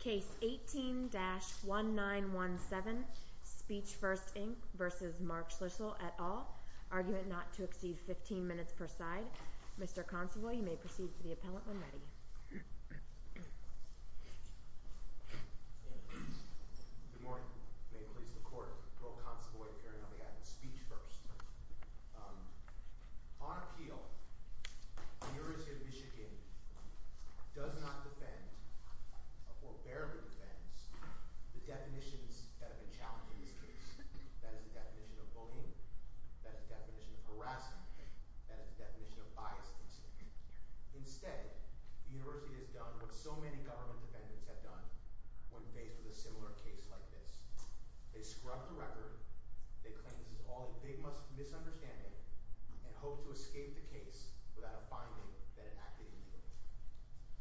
Case 18-1917, Speech First Inc v. Mark Schlissel et al., argument not to exceed 15 minutes per side. Mr. Consovoy, you may proceed to the appellant when ready. Good morning. May it please the Court, Roe Consovoy, appearing on the item Speech First. On appeal, the University of Michigan does not defend, or barely defends, the definitions that have been challenged in this case. That is the definition of bullying, that is the definition of harassment, that is the definition of biased incident. Instead, the University has done what so many government defendants have done when faced with a similar case like this. They scrub the record, they claim this is all a big misunderstanding, and hope to escape the case without a finding that it acted illegally.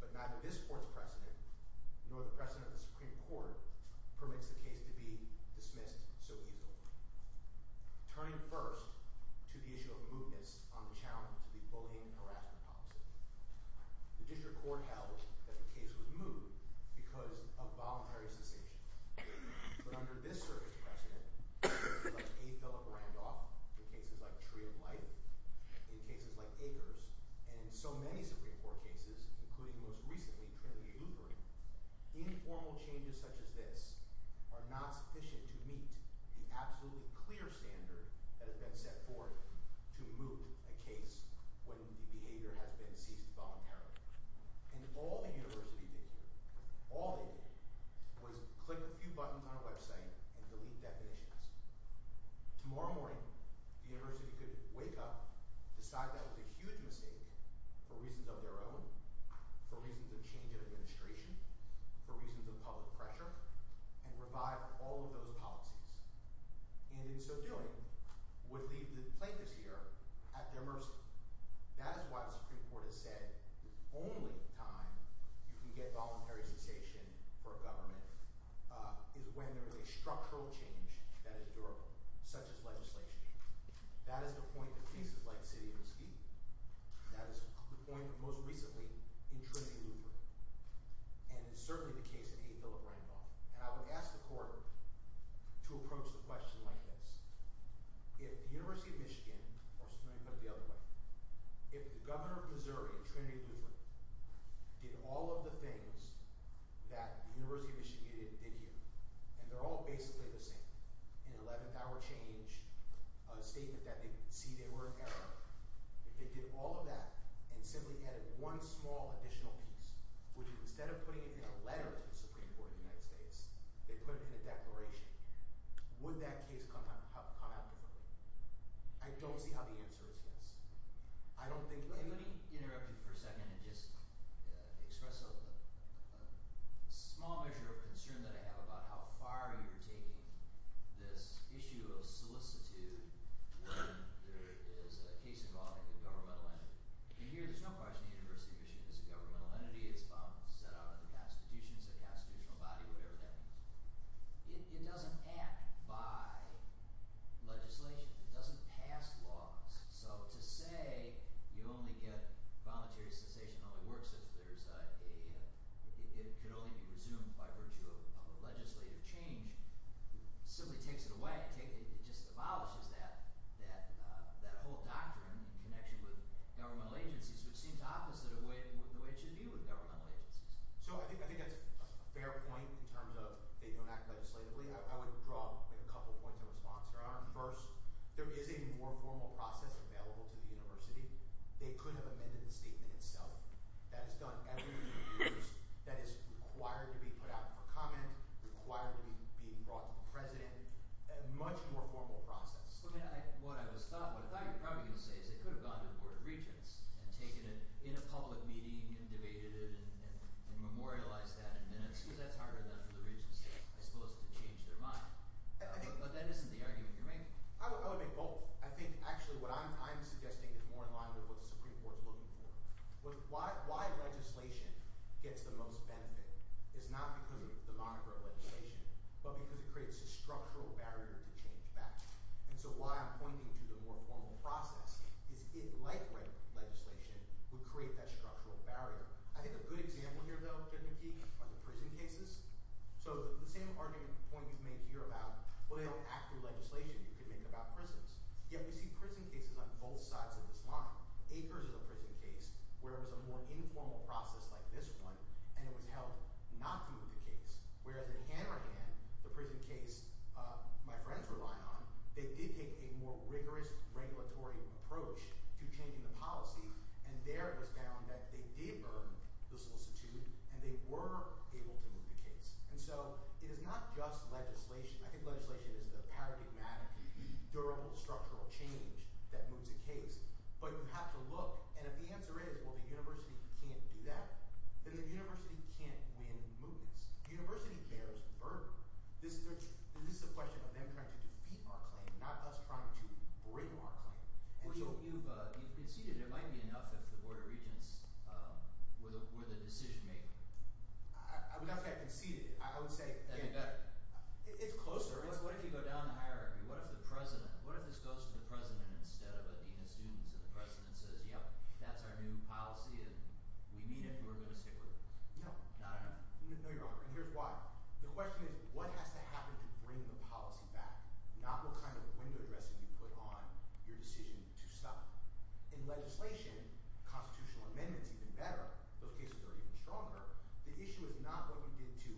But neither this Court's precedent, nor the precedent of the Supreme Court, permits the case to be dismissed so easily. Turning first to the issue of mootness on the challenge to the bullying and harassment policy. The District Court held that the case was moot because of voluntary cessation. But under this Circuit's precedent, like A. Philip Randolph in cases like Tree of Life, in cases like Acres, and in so many Supreme Court cases, including most recently Trinity Lutheran, informal changes such as this are not sufficient to meet the absolutely clear standard that has been set forth to moot a case when the behavior has been ceased voluntarily. And all the University did here, all they did, was click a few buttons on a website and delete definitions. Tomorrow morning, the University could wake up, decide that it was a huge mistake for reasons of their own, for reasons of change in administration, for reasons of public pressure, and revive all of those policies. And in so doing, would leave the plaintiffs here at their mercy. That is why the Supreme Court has said the only time you can get voluntary cessation for a government is when there is a structural change that is durable, such as legislation. That is the point in cases like City of Mesquite. That is the point, most recently, in Trinity Lutheran. And it's certainly the case in A. Philip Randolph. And I would ask the court to approach the question like this. If the University of Michigan, or let me put it the other way, if the governor of Missouri, Trinity Lutheran, did all of the things that the University of Michigan did here, and they're all basically the same, an 11th hour change, a statement that they see they were in error, if they did all of that and simply added one small additional piece, which instead of putting it in a letter to the Supreme Court of the United States, they put it in a declaration, would that case come out differently? I don't see how the answer is yes. I don't think – Let me interrupt you for a second and just express a small measure of concern that I have about how far you're taking this issue of solicitude when there is a case involving a governmental entity. And here there's no question the University of Michigan is a governmental entity. It's set out in the Constitution. It's a constitutional body, whatever that means. It doesn't act by legislation. It doesn't pass laws. So to say you only get voluntary cessation only works if there's a – it could only be resumed by virtue of a legislative change simply takes it away. It just abolishes that whole doctrine in connection with governmental agencies, which seems opposite of the way it should be with governmental agencies. So I think that's a fair point in terms of they don't act legislatively. I would draw a couple points of response. First, there is a more formal process available to the university. They could have amended the statement itself. That is done every few years. That is required to be put out for comment, required to be brought to the president, a much more formal process. What I thought you were probably going to say is they could have gone to the Board of Regents and taken it in a public meeting and debated it and memorialized that in minutes because that's harder than for the regents, I suppose, to change their mind. But that isn't the argument you're making. I would make both. I think actually what I'm suggesting is more in line with what the Supreme Court is looking for. Why legislation gets the most benefit is not because of the moniker of legislation but because it creates a structural barrier to change back. And so why I'm pointing to the more formal process is it, like legislation, would create that structural barrier. I think a good example here, though, technically, are the prison cases. So the same argument point is made here about, well, they don't act through legislation. You can make it about prisons. Yet we see prison cases on both sides of this line. Akers is a prison case where it was a more informal process like this one, and it was held not to be the case. Whereas in Hanrahan, the prison case my friends rely on, they did take a more rigorous regulatory approach to changing the policy. And there it was found that they did earn the solicitude and they were able to move the case. And so it is not just legislation. I think legislation is the paradigmatic, durable, structural change that moves a case. But you have to look. And if the answer is, well, the university can't do that, then the university can't win movements. The university cares, the burden. This is a question of them trying to defeat our claim, not us trying to bring our claim. Well, you've conceded. It might be enough if the Board of Regents were the decision maker. I would not say I conceded. I would say – That'd be better. It's closer. What if you go down the hierarchy? What if the president – what if this goes to the president instead of a dean of students and the president says, yep, that's our new policy and we need it and we're going to stick with it? No. Not enough? No, Your Honor. And here's why. The question is what has to happen to bring the policy back, not what kind of window dressing you put on your decision to stop. In legislation, constitutional amendments even better. Those cases are even stronger. The issue is not what you did to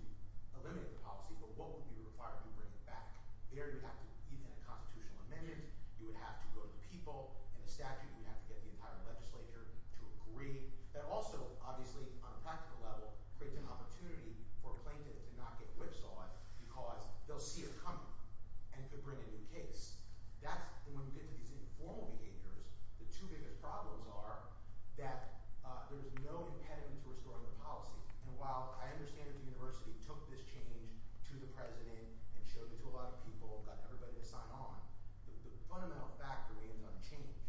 eliminate the policy, but what would be required to bring it back. There you have to – even in a constitutional amendment, you would have to go to the people. In a statute, you would have to get the entire legislature to agree. That also, obviously, on a practical level, creates an opportunity for a plaintiff to not get whipsawed because they'll see it coming and could bring a new case. That's – and when we get to these informal behaviors, the two biggest problems are that there's no impediment to restoring the policy. And while I understand that the university took this change to the president and showed it to a lot of people, got everybody to sign on. The fundamental factor is on change,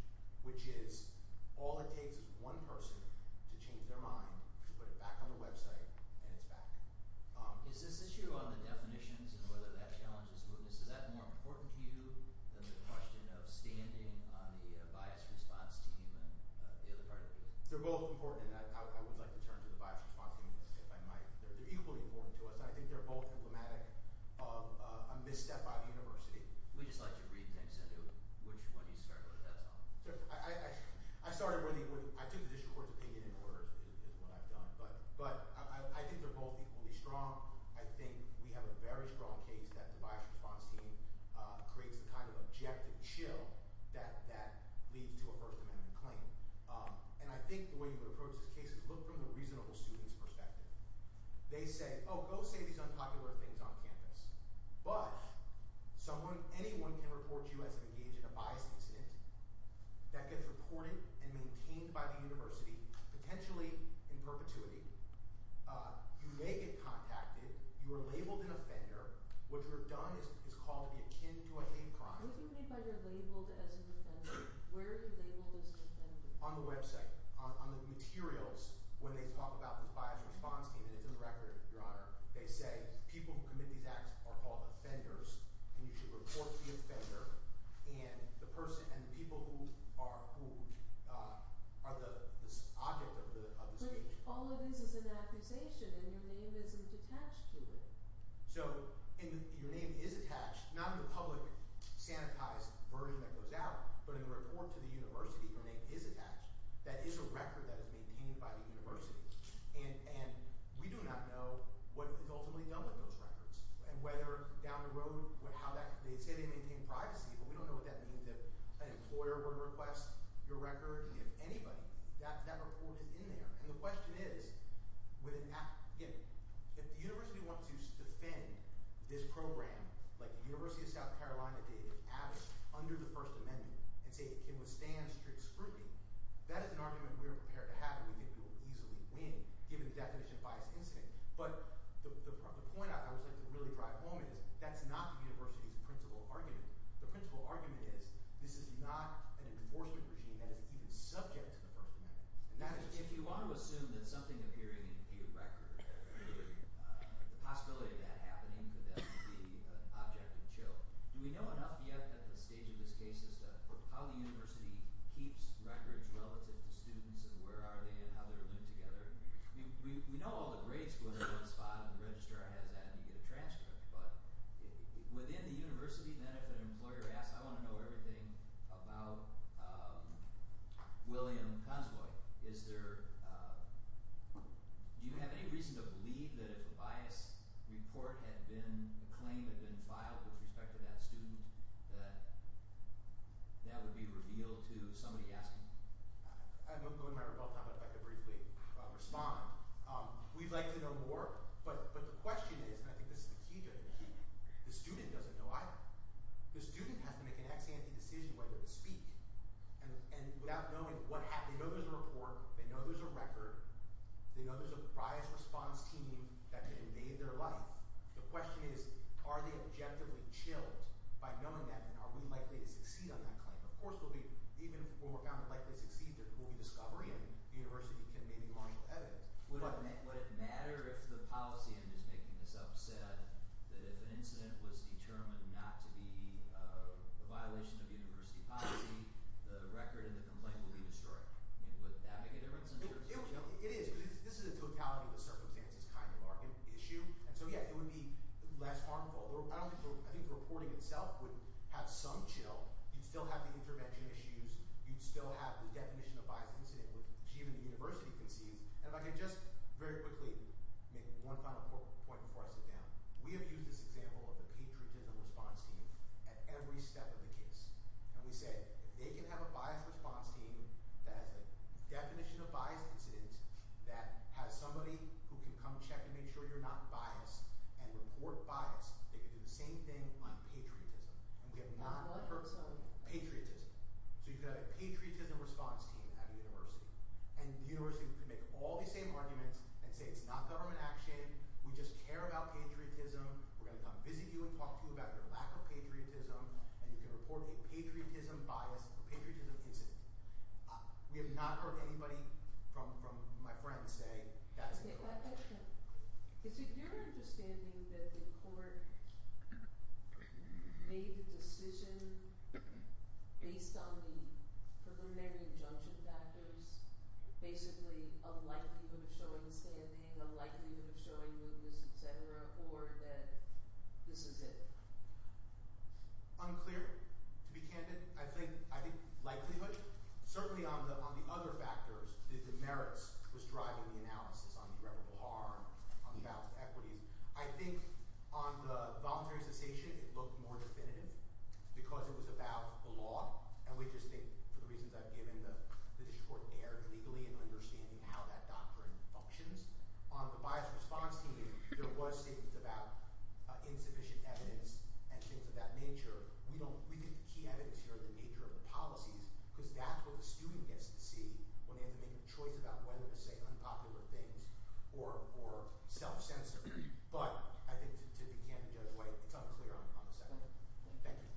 which is all it takes is one person to change their mind, to put it back on the website, and it's back. Is this issue on the definitions and whether that challenge is good? Is that more important to you than the question of standing on the bias response team and the other part of it? They're both important, and I would like to turn to the bias response team if I might. They're equally important to us, and I think they're both emblematic of a misstep by the university. We'd just like to read things into it. Which one do you start with? That's all. I started with – I took the district court's opinion in order is what I've done, but I think they're both equally strong. I think we have a very strong case that the bias response team creates the kind of objective chill that leads to a First Amendment claim. And I think the way you would approach this case is look from the reasonable student's perspective. They say, oh, go say these unpopular things on campus. But someone – anyone can report you as engaged in a biased incident that gets reported and maintained by the university, potentially in perpetuity. You may get contacted. You are labeled an offender. What you have done is called to be akin to a hate crime. What do you mean by you're labeled as an offender? Where are you labeled as an offender? On the website, on the materials, when they talk about this bias response team – and it's in the record, Your Honor – they say people who commit these acts are called offenders. And you should report the offender and the person – and the people who are the object of the situation. But all of this is an accusation, and your name isn't attached to it. So your name is attached, not in the public sanitized version that goes out, but in the report to the university. Your name is attached. That is a record that is maintained by the university. And we do not know what is ultimately done with those records and whether down the road – how that – they say they maintain privacy, but we don't know what that means. If an employer were to request your record, if anybody, that report is in there. And the question is, if the university wants to defend this program, like the University of South Carolina did, if added under the First Amendment and say it can withstand strict scrutiny, that is an argument we are prepared to have and we think we will easily win given the definition of bias incident. But the point I would like to really drive home is that's not the university's principal argument. The principal argument is this is not an enforcement regime that is even subject to the First Amendment. Now, if you want to assume that something appearing in a record, the possibility of that happening could then be an object of chill. Do we know enough yet at the stage of this case as to how the university keeps records relative to students and where are they and how they're linked together? We know all the grades go to one spot and the registrar has that and you get a transcript. But within the university, then if an employer asks, I want to know everything about William Consvoy, is there – do you have any reason to believe that if a bias report had been – a claim had been filed with respect to that student that that would be revealed to somebody asking? I know I'm going to run out of time, but if I could briefly respond. We'd like to know more, but the question is – and I think this is the key to it – the student doesn't know either. The student has to make an ex-ante decision whether to speak. And without knowing what – they know there's a report, they know there's a record, they know there's a bias response team that could invade their life. The question is are they objectively chilled by knowing that and are we likely to succeed on that claim? Of course we'll be – even if we're found to likely succeed, there will be discovery and the university can maybe launch evidence. Would it matter if the policy – I'm just making this up – said that if an incident was determined not to be a violation of university policy, the record and the complaint would be destroyed? Would that make a difference? It is because this is a totality of the circumstances kind of market issue. And so, yeah, it would be less harmful. I think the reporting itself would have some chill. You'd still have the intervention issues. You'd still have the definition of bias incident, which even the university can see. And if I can just very quickly make one final point before I sit down. We have used this example of the patriotism response team at every step of the case. And we say if they can have a bias response team that has a definition of bias incident, that has somebody who can come check and make sure you're not biased and report bias, they can do the same thing on patriotism. And we have not heard – On what? Patriotism. So, you've got a patriotism response team at a university. And the university can make all these same arguments and say it's not government action. We just care about patriotism. We're going to come visit you and talk to you about your lack of patriotism. And you can report a patriotism bias or patriotism incident. We have not heard anybody from my friends say that's incorrect. Is it your understanding that the court made the decision based on the preliminary injunction factors, basically a likelihood of showing standing, a likelihood of showing mootness, etc., or that this is it? Unclear, to be candid. I think likelihood. Certainly, on the other factors, the merits was driving the analysis on irreparable harm, on the balance of equities. I think on the voluntary cessation, it looked more definitive because it was about the law. And we just think, for the reasons I've given, that the district court erred legally in understanding how that doctrine functions. On the bias response team, there was statements about insufficient evidence and things of that nature. We don't – we think the key evidence here is the nature of the policies because that's what the student gets to see when they have to make a choice about whether to say unpopular things or self-censor. But I think to be candid, Judge White, it's unclear on the second one. Thank you.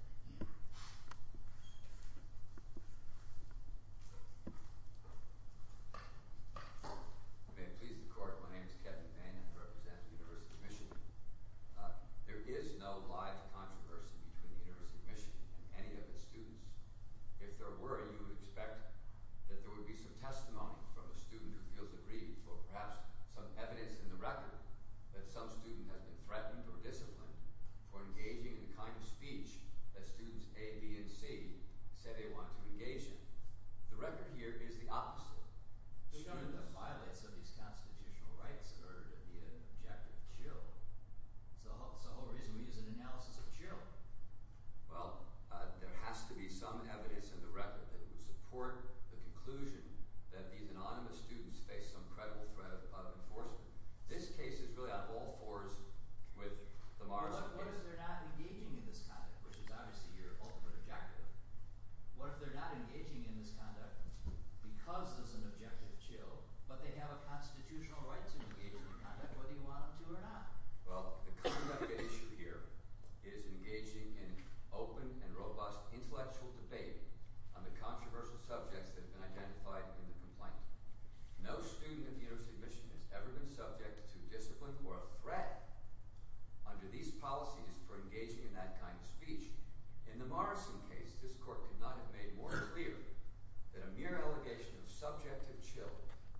May it please the court. My name is Kevin Mannion. I represent the University of Michigan. There is no live controversy between the University of Michigan and any of its students. If there were, you would expect that there would be some testimony from a student who feels aggrieved for perhaps some evidence in the record that some student has been threatened or disciplined for engaging in the kind of speech that students A, B, and C say they want to engage in. The record here is the opposite. The student that violates of these constitutional rights are to be an objective of juror. That's the whole reason we use an analysis of juror. Well, there has to be some evidence in the record that would support the conclusion that these anonymous students face some credible threat of enforcement. This case is really on all fours with the Morrison case. What if they're not engaging in this conduct, which is obviously your ultimate objective? What if they're not engaging in this conduct because there's an objective of juror, but they have a constitutional right to engage in the conduct whether you want them to or not? Well, the conduct at issue here is engaging in open and robust intellectual debate on the controversial subjects that have been identified in the complaint. No student at the University of Michigan has ever been subject to discipline or a threat under these policies for engaging in that kind of speech. In the Morrison case, this court could not have made more clear that a mere allegation of subjective chill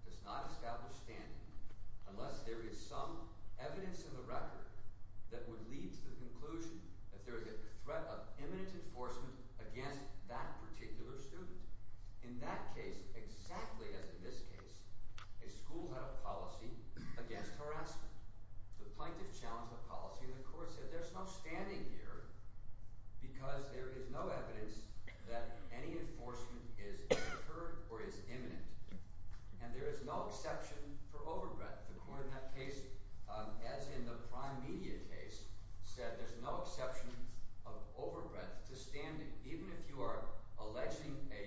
does not establish standing unless there is some evidence in the record that would lead to the conclusion that there is a threat of imminent enforcement against that particular student. In that case, exactly as in this case, a school had a policy against harassment. The plaintiff challenged the policy, and the court said there's no standing here because there is no evidence that any enforcement is incurred or is imminent. And there is no exception for overbreadth. The court in that case, as in the prime media case, said there's no exception of overbreadth to standing. Even if you are alleging a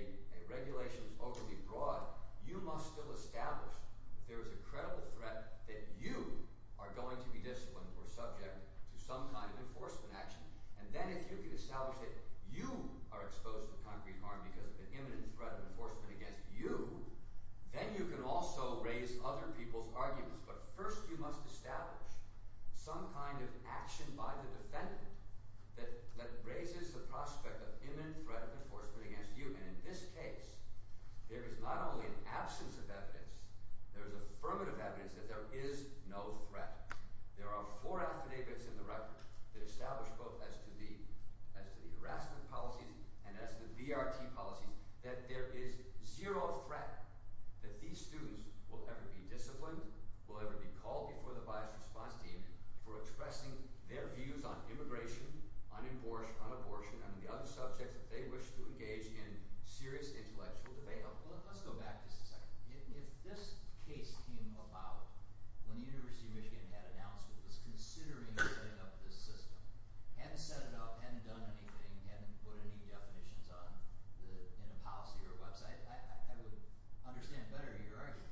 regulation is overly broad, you must still establish that there is a credible threat that you are going to be disciplined or subject to some kind of enforcement action. And then if you can establish that you are exposed to concrete harm because of the imminent threat of enforcement against you, then you can also raise other people's arguments. But first, you must establish some kind of action by the defendant that raises the prospect of imminent threat of enforcement against you. And in this case, there is not only an absence of evidence. There is affirmative evidence that there is no threat. There are four affidavits in the record that establish both as to the harassment policies and as to the VRT policies that there is zero threat that these students will ever be disciplined, will ever be called before the biased response team for expressing their views on immigration, on abortion, on the other subjects that they wish to engage in serious intellectual debate on. Let's go back just a second. If this case came about when the University of Michigan had announced it was considering setting up this system, hadn't set it up, hadn't done anything, hadn't put any definitions on the policy or website, I would understand better your argument.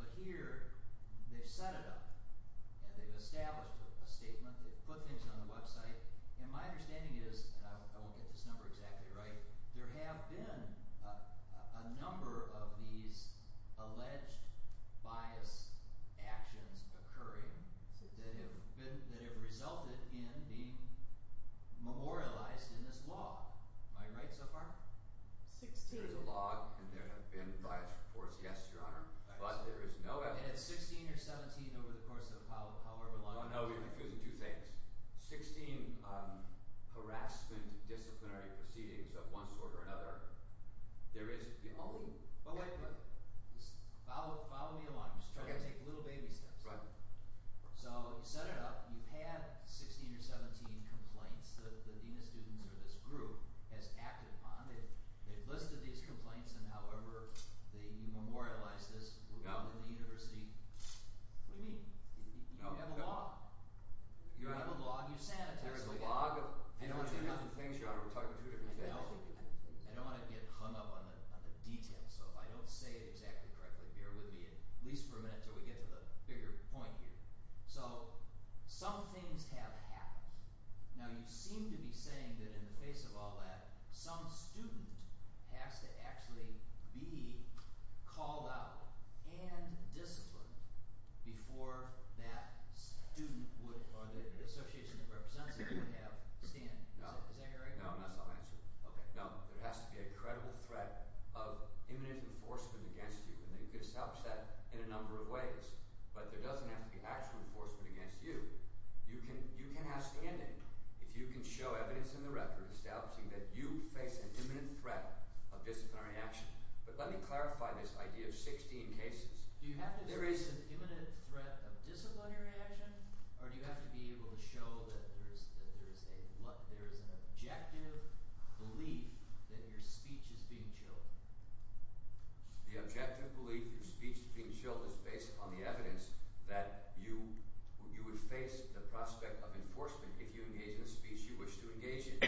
But here, they've set it up and they've established a statement. They've put things on the website. And my understanding is – and I won't get this number exactly right – there have been a number of these alleged biased actions occurring that have resulted in being memorialized in this law. Am I right so far? Sixteen. There's a law and there have been biased reports, yes, Your Honor. But there is no evidence. And it's 16 or 17 over the course of however long. No, no. You're confusing two things. Sixteen harassment disciplinary proceedings of one sort or another. There is – Oh, wait. Follow me along. I'm just trying to take little baby steps. Right. So you set it up. You've had 16 or 17 complaints that the dean of students or this group has acted upon. They've listed these complaints and however you memorialize this in the university. What do you mean? You have a log. You have a log. You've sent it to us. There is a log. I don't want to get hung up on the details. So if I don't say it exactly correctly, bear with me at least for a minute until we get to the bigger point here. So some things have happened. Now, you seem to be saying that in the face of all that, some student has to actually be called out and disciplined before that student would – or the association that represents it would have stand. Is that your argument? No, no. That's not my answer. Okay. No. There has to be a credible threat of imminent enforcement against you. And they could establish that in a number of ways. But there doesn't have to be actual enforcement against you. You can have standing if you can show evidence in the record establishing that you face an imminent threat of disciplinary action. But let me clarify this idea of 16 cases. Do you have to face an imminent threat of disciplinary action or do you have to be able to show that there is an objective belief that your speech is being chilled? The objective belief that your speech is being chilled is based upon the evidence that you would face the prospect of enforcement if you engage in a speech you wish to engage in.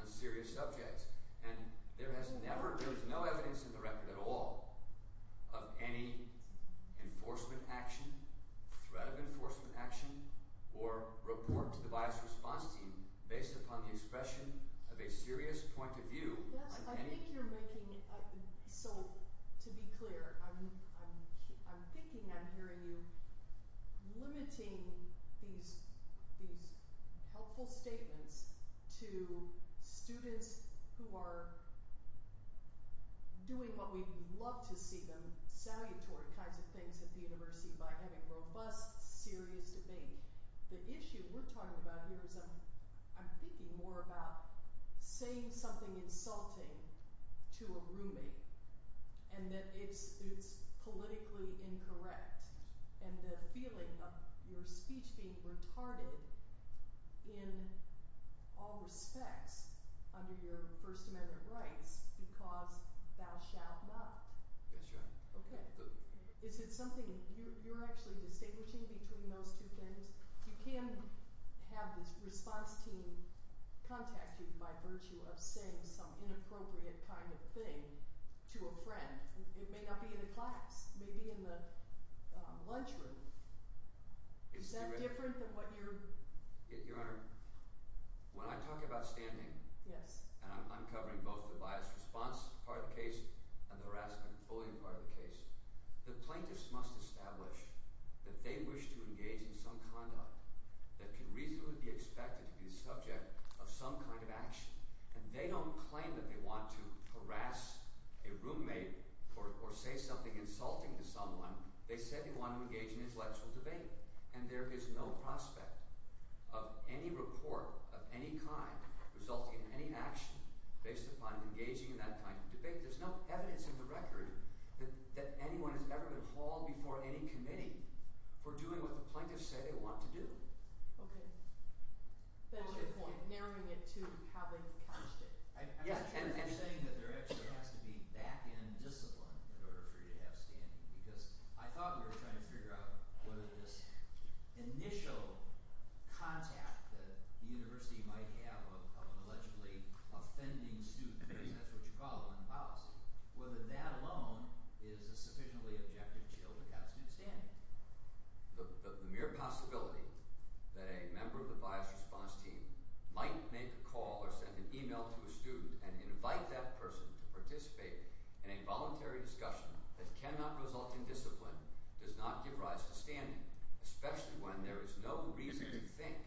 On serious subjects. And there has never – there is no evidence in the record at all of any enforcement action, threat of enforcement action, or report to the bias response team based upon the expression of a serious point of view. I think you're making – so to be clear, I'm thinking I'm hearing you limiting these helpful statements to students who are doing what we love to see them, salutary kinds of things at the university by having robust, serious debate. The issue we're talking about here is I'm thinking more about saying something insulting to a roommate and that it's politically incorrect. And the feeling of your speech being retarded in all respects under your First Amendment rights because thou shalt not. Okay. Is it something you're actually distinguishing between those two things? You can have this response team contact you by virtue of saying some inappropriate kind of thing to a friend. It may not be in a class. It may be in the lunchroom. Is that different than what you're… Your Honor, when I talk about standing and I'm covering both the bias response part of the case and the harassment and bullying part of the case, the plaintiffs must establish that they wish to engage in some conduct that can reasonably be expected to be the subject of some kind of action. And they don't claim that they want to harass a roommate or say something insulting to someone. They said they want to engage in intellectual debate, and there is no prospect of any report of any kind resulting in any action based upon engaging in that kind of debate. There's no evidence in the record that anyone has ever been hauled before any committee for doing what the plaintiffs say they want to do. Okay. That's your point, narrowing it to how they've couched it. I'm saying that there actually has to be back-end discipline in order for you to have standing because I thought we were trying to figure out whether this initial contact that the university might have of an allegedly offending student, because that's what you call it in policy, whether that alone is a sufficiently objective shield to have student standing. The mere possibility that a member of the bias response team might make a call or send an email to a student and invite that person to participate in a voluntary discussion that cannot result in discipline does not give rise to standing, especially when there is no reason to think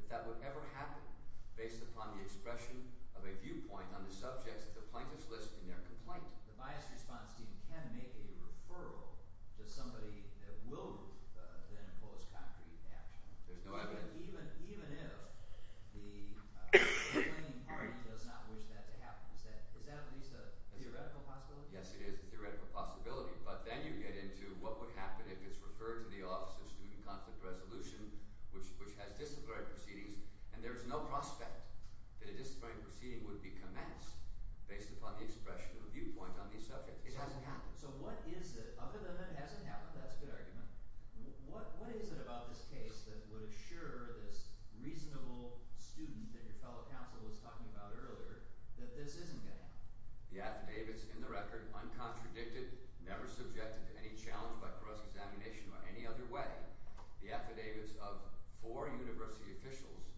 that that would ever happen based upon the expression of a viewpoint on the subjects that the plaintiffs list in their complaint. The bias response team can make a referral to somebody that will then impose concrete action. There's no evidence. So what is it – other than it hasn't happened, that's a good argument. What is it about this case that would assure this reasonable student that your fellow counsel was talking about earlier that this isn't going to happen? The affidavits in the record, uncontradicted, never subjected to any challenge by cross-examination or any other way, the affidavits of four university officials,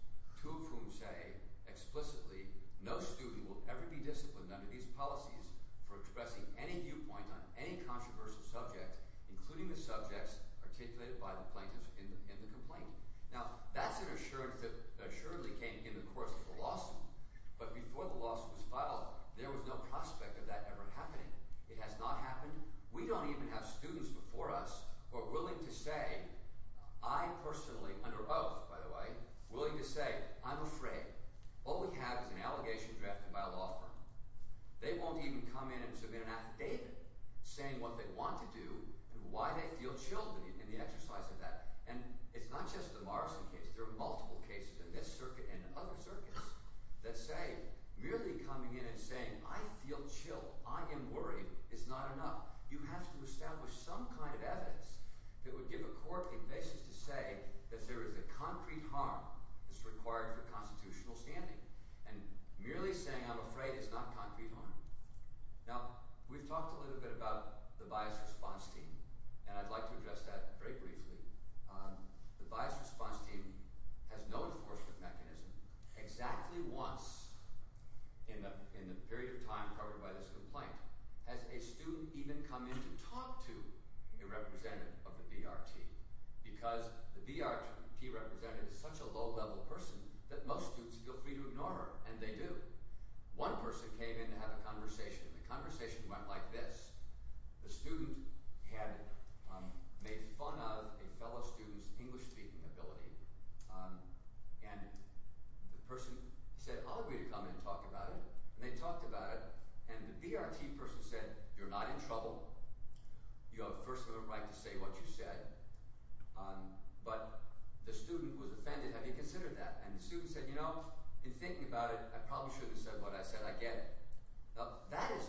two of whom say explicitly no student will ever be disciplined under these policies for expressing any viewpoint on any controversial subject, including the subjects articulated by the plaintiffs in the complaint. Now, that's an assurance that assuredly came in the course of the lawsuit, but before the lawsuit was filed, there was no prospect of that ever happening. It has not happened. We don't even have students before us who are willing to say – I personally, under oath, by the way – willing to say, I'm afraid. All we have is an allegation drafted by a law firm. They won't even come in and submit an affidavit saying what they want to do and why they feel chilled in the exercise of that. And it's not just the Morrison case. There are multiple cases in this circuit and other circuits that say merely coming in and saying, I feel chilled, I am worried, is not enough. You have to establish some kind of evidence that would give a core basis to say that there is a concrete harm that's required for constitutional standing. And merely saying, I'm afraid, is not concrete harm. Now, we've talked a little bit about the bias response team, and I'd like to address that very briefly. The bias response team has no enforcement mechanism. Exactly once in the period of time covered by this complaint has a student even come in to talk to a representative of the BRT because the BRT representative is such a low-level person that most students feel free to ignore her, and they do. One person came in to have a conversation, and the conversation went like this. The student had made fun of a fellow student's English-speaking ability, and the person said, I'll agree to come in and talk about it, and they talked about it. And the BRT person said, you're not in trouble. You have the first right to say what you said. But the student was offended. Have you considered that? And the student said, you know, in thinking about it, I probably should have said what I said. I get it. That is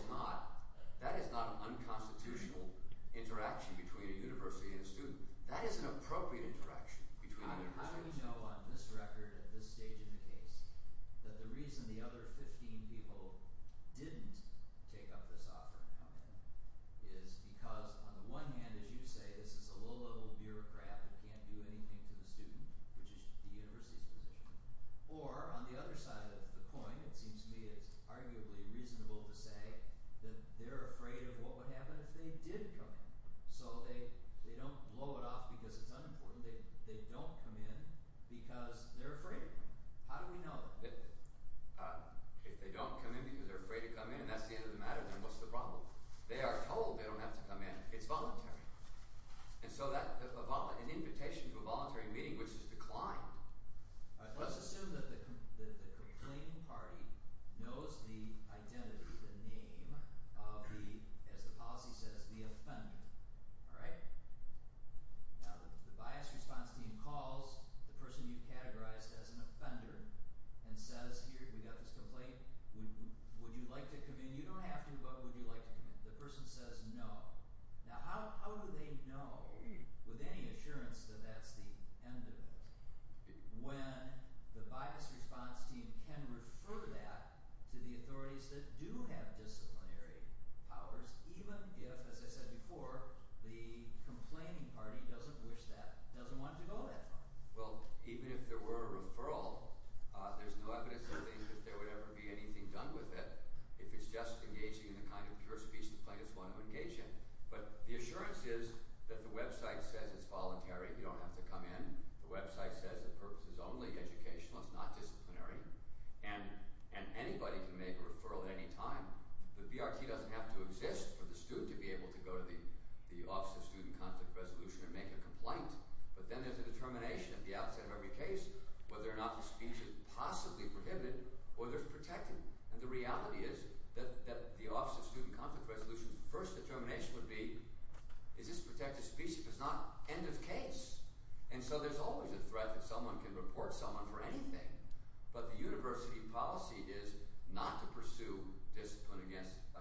not an unconstitutional interaction between a university and a student. That is an appropriate interaction between a university and a student. at this stage in the case, that the reason the other 15 people didn't take up this offer and come in is because on the one hand, as you say, this is a low-level bureaucrat that can't do anything to the student, which is the university's position. Or on the other side of the coin, it seems to me it's arguably reasonable to say that they're afraid of what would happen if they did come in. So they don't blow it off because it's unimportant. They don't come in because they're afraid. How do we know that? If they don't come in because they're afraid to come in and that's the end of the matter, then what's the problem? They are told they don't have to come in. It's voluntary. And so that – an invitation to a voluntary meeting, which is declined. Let's assume that the complaining party knows the identity, the name of the, as the policy says, the offender. All right? Now, the bias response team calls the person you've categorized as an offender and says, here, we've got this complaint. Would you like to come in? You don't have to, but would you like to come in? The person says no. Now, how do they know with any assurance that that's the end of it when the bias response team can refer that to the authorities that do have disciplinary powers, even if, as I said before, the complaining party doesn't wish that – doesn't want to go that far? Well, even if there were a referral, there's no evidence that there would ever be anything done with it. If it's just engaging in the kind of pure speech that plaintiffs want to engage in. But the assurance is that the website says it's voluntary. You don't have to come in. The website says the purpose is only educational. It's not disciplinary. And anybody can make a referral at any time. The BRT doesn't have to exist for the student to be able to go to the Office of Student Conflict Resolution and make a complaint. But then there's a determination at the outset of every case whether or not the speech is possibly prohibited or there's protecting. And the reality is that the Office of Student Conflict Resolution's first determination would be, is this protective speech? Because it's not end of case. And so there's always a threat that someone can report someone for anything. But the university policy is not to pursue discipline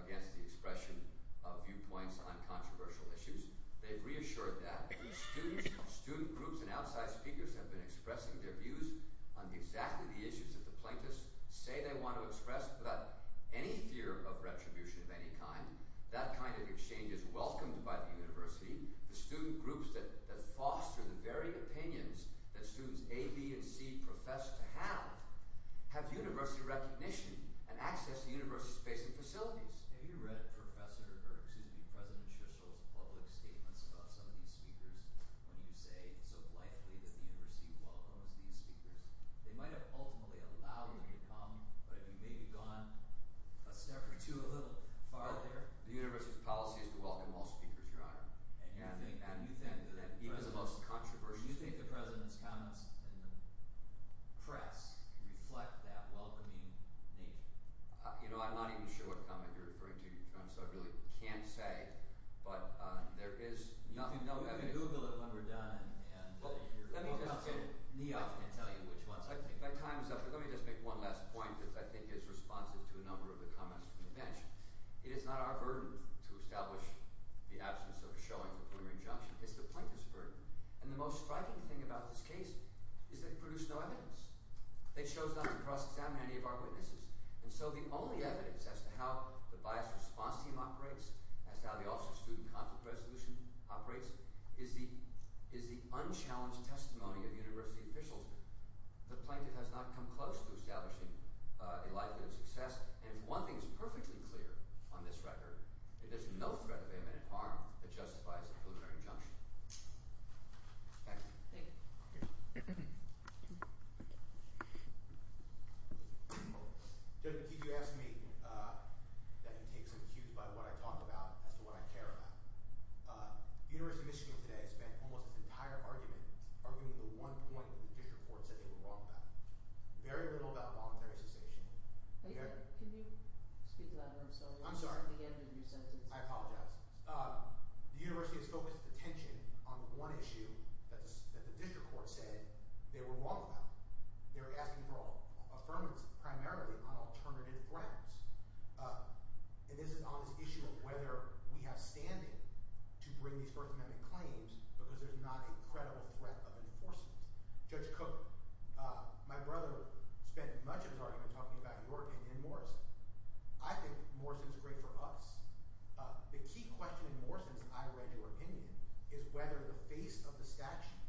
against the expression of viewpoints on controversial issues. They've reassured that. These students, student groups, and outside speakers have been expressing their views on exactly the issues that the plaintiffs say they want to express without any fear of retribution of any kind. That kind of exchange is welcomed by the university. The student groups that foster the varying opinions that students A, B, and C profess to have have university recognition and access to university space and facilities. Have you read President Shishol's public statements about some of these speakers when you say it's so blithely that the university welcomes these speakers? They might have ultimately allowed you to come, but have you maybe gone a step or two a little farther? The university's policy is to welcome all speakers, Your Honor. And you think that even the most controversial – Do you think the president's comments in the press reflect that welcoming nature? You know, I'm not even sure what comment you're referring to, Your Honor, so I really can't say. But there is no evidence. You can Google it when we're done and you're about to get it. Let me just make one last point that I think is responsive to a number of the comments from the bench. It is not our burden to establish the absence of a showing of a preliminary injunction. It's the plaintiffs' burden. And the most striking thing about this case is that it produced no evidence. They chose not to cross-examine any of our witnesses. And so the only evidence as to how the biased response team operates, as to how the Office of Student Conflict Resolution operates, is the unchallenged testimony of university officials. The plaintiff has not come close to establishing a likelihood of success. And if one thing is perfectly clear on this record, it is no threat of imminent harm that justifies a preliminary injunction. Thank you. Thank you. Judge McKee, you asked me that you take some cues by what I talk about as to what I care about. The University of Michigan today has spent almost its entire argument arguing the one point that Fischer-Ford said they were wrong about. Very little about voluntary cessation. Can you speak louder? I'm sorry. I'm sorry. At the end of your sentence. I apologize. The university has focused attention on one issue that the district court said they were wrong about. They were asking for affirmance primarily on alternative grounds. And this is on this issue of whether we have standing to bring these First Amendment claims because there's not a credible threat of enforcement. Judge Cook, my brother spent much of his argument talking about your opinion and Morrison. I think Morrison's great for us. The key question in Morrison's, I read your opinion, is whether the face of the statute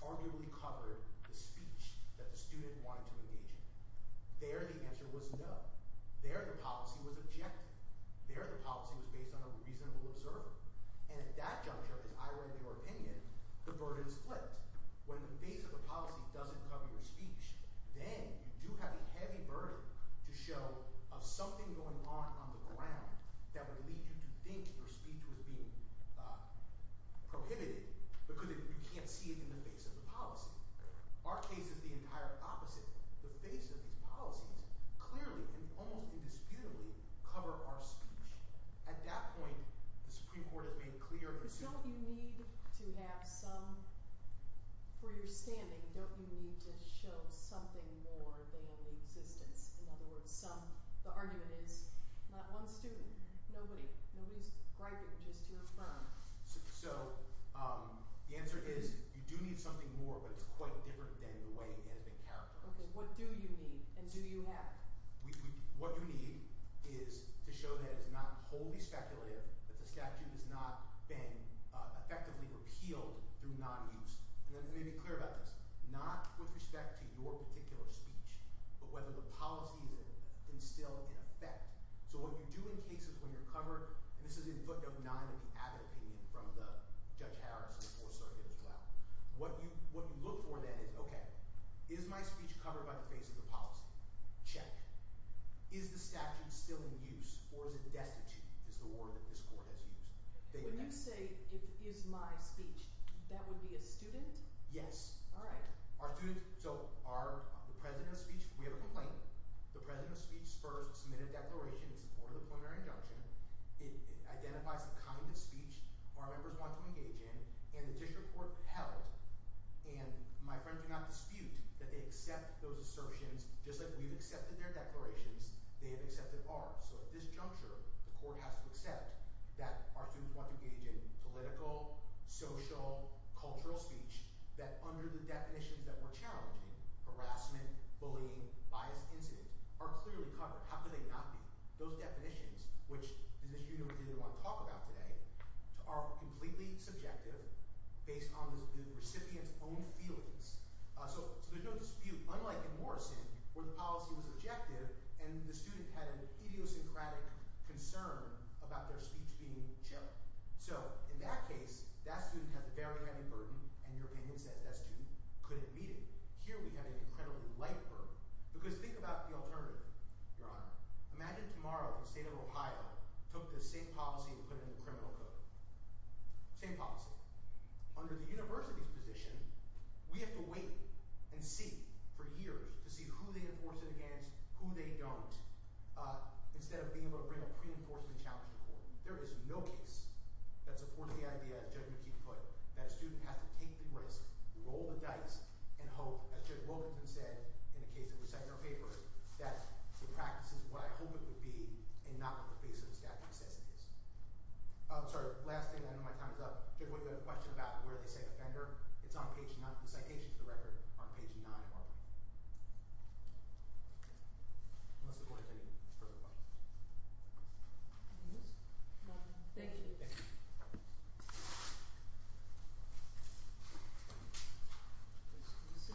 arguably covered the speech that the student wanted to engage in. There the answer was no. There the policy was objective. There the policy was based on a reasonable observer. And at that juncture, as I read your opinion, the burden split. When the face of the policy doesn't cover your speech, then you do have a heavy burden to show of something going on on the ground that would lead you to think your speech was being prohibited because you can't see it in the face of the policy. Our case is the entire opposite. The face of these policies clearly and almost indisputably cover our speech. At that point, the Supreme Court has made clear. Don't you need to have some – for your standing, don't you need to show something more than the existence? In other words, some – the argument is not one student, nobody. Nobody's griping, just your firm. So the answer is you do need something more, but it's quite different than the way it has been characterized. Okay, what do you need and do you have? What you need is to show that it's not wholly speculative, that the statute has not been effectively repealed through nonuse. And let me be clear about this. Not with respect to your particular speech, but whether the policy is instilled in effect. So what you do in cases when you're covered – and this is in footnote 9 of the Abbott opinion from Judge Harris and the Fourth Circuit as well. What you look for then is, okay, is my speech covered by the face of the policy? Check. Is the statute still in use or is it destitute is the word that this court has used. When you say, is my speech, that would be a student? Yes. All right. Our students – so our – the president of speech – we have a complaint. The president of speech first submitted a declaration in support of the preliminary injunction. It identifies the kind of speech our members want to engage in, and the district court held. And my friends do not dispute that they accept those assertions. Just like we've accepted their declarations, they have accepted ours. So at this juncture, the court has to accept that our students want to engage in political, social, cultural speech that, under the definitions that we're challenging – harassment, bullying, bias incident – are clearly covered. How could they not be? Those definitions, which is a issue that we didn't want to talk about today, are completely subjective based on the recipient's own feelings. So there's no dispute, unlike in Morrison where the policy was objective and the student had an idiosyncratic concern about their speech being chilled. So in that case, that student has a very heavy burden, and your opinion says that student couldn't meet it. Here we have an incredibly light burden because think about the alternative, Your Honor. Imagine tomorrow the state of Ohio took the same policy and put it in the criminal code. Same policy. Under the university's position, we have to wait and see for years to see who they enforce it against, who they don't, instead of being able to bring a pre-enforcement challenge to court. There is no case that supports the idea, as Judge McKee put it, that a student has to take the risk, roll the dice, and hope, as Judge Wilkinson said in a case that was set in her paper, that the practice is what I hope it would be and not what the face of the statute says it is. Sorry, last thing. I know my time is up. Judge, do you have a question about where they say offender? It's on page 9 – the citation is on page 9 of the record. Unless the court has any further questions. Anything else? No, thank you.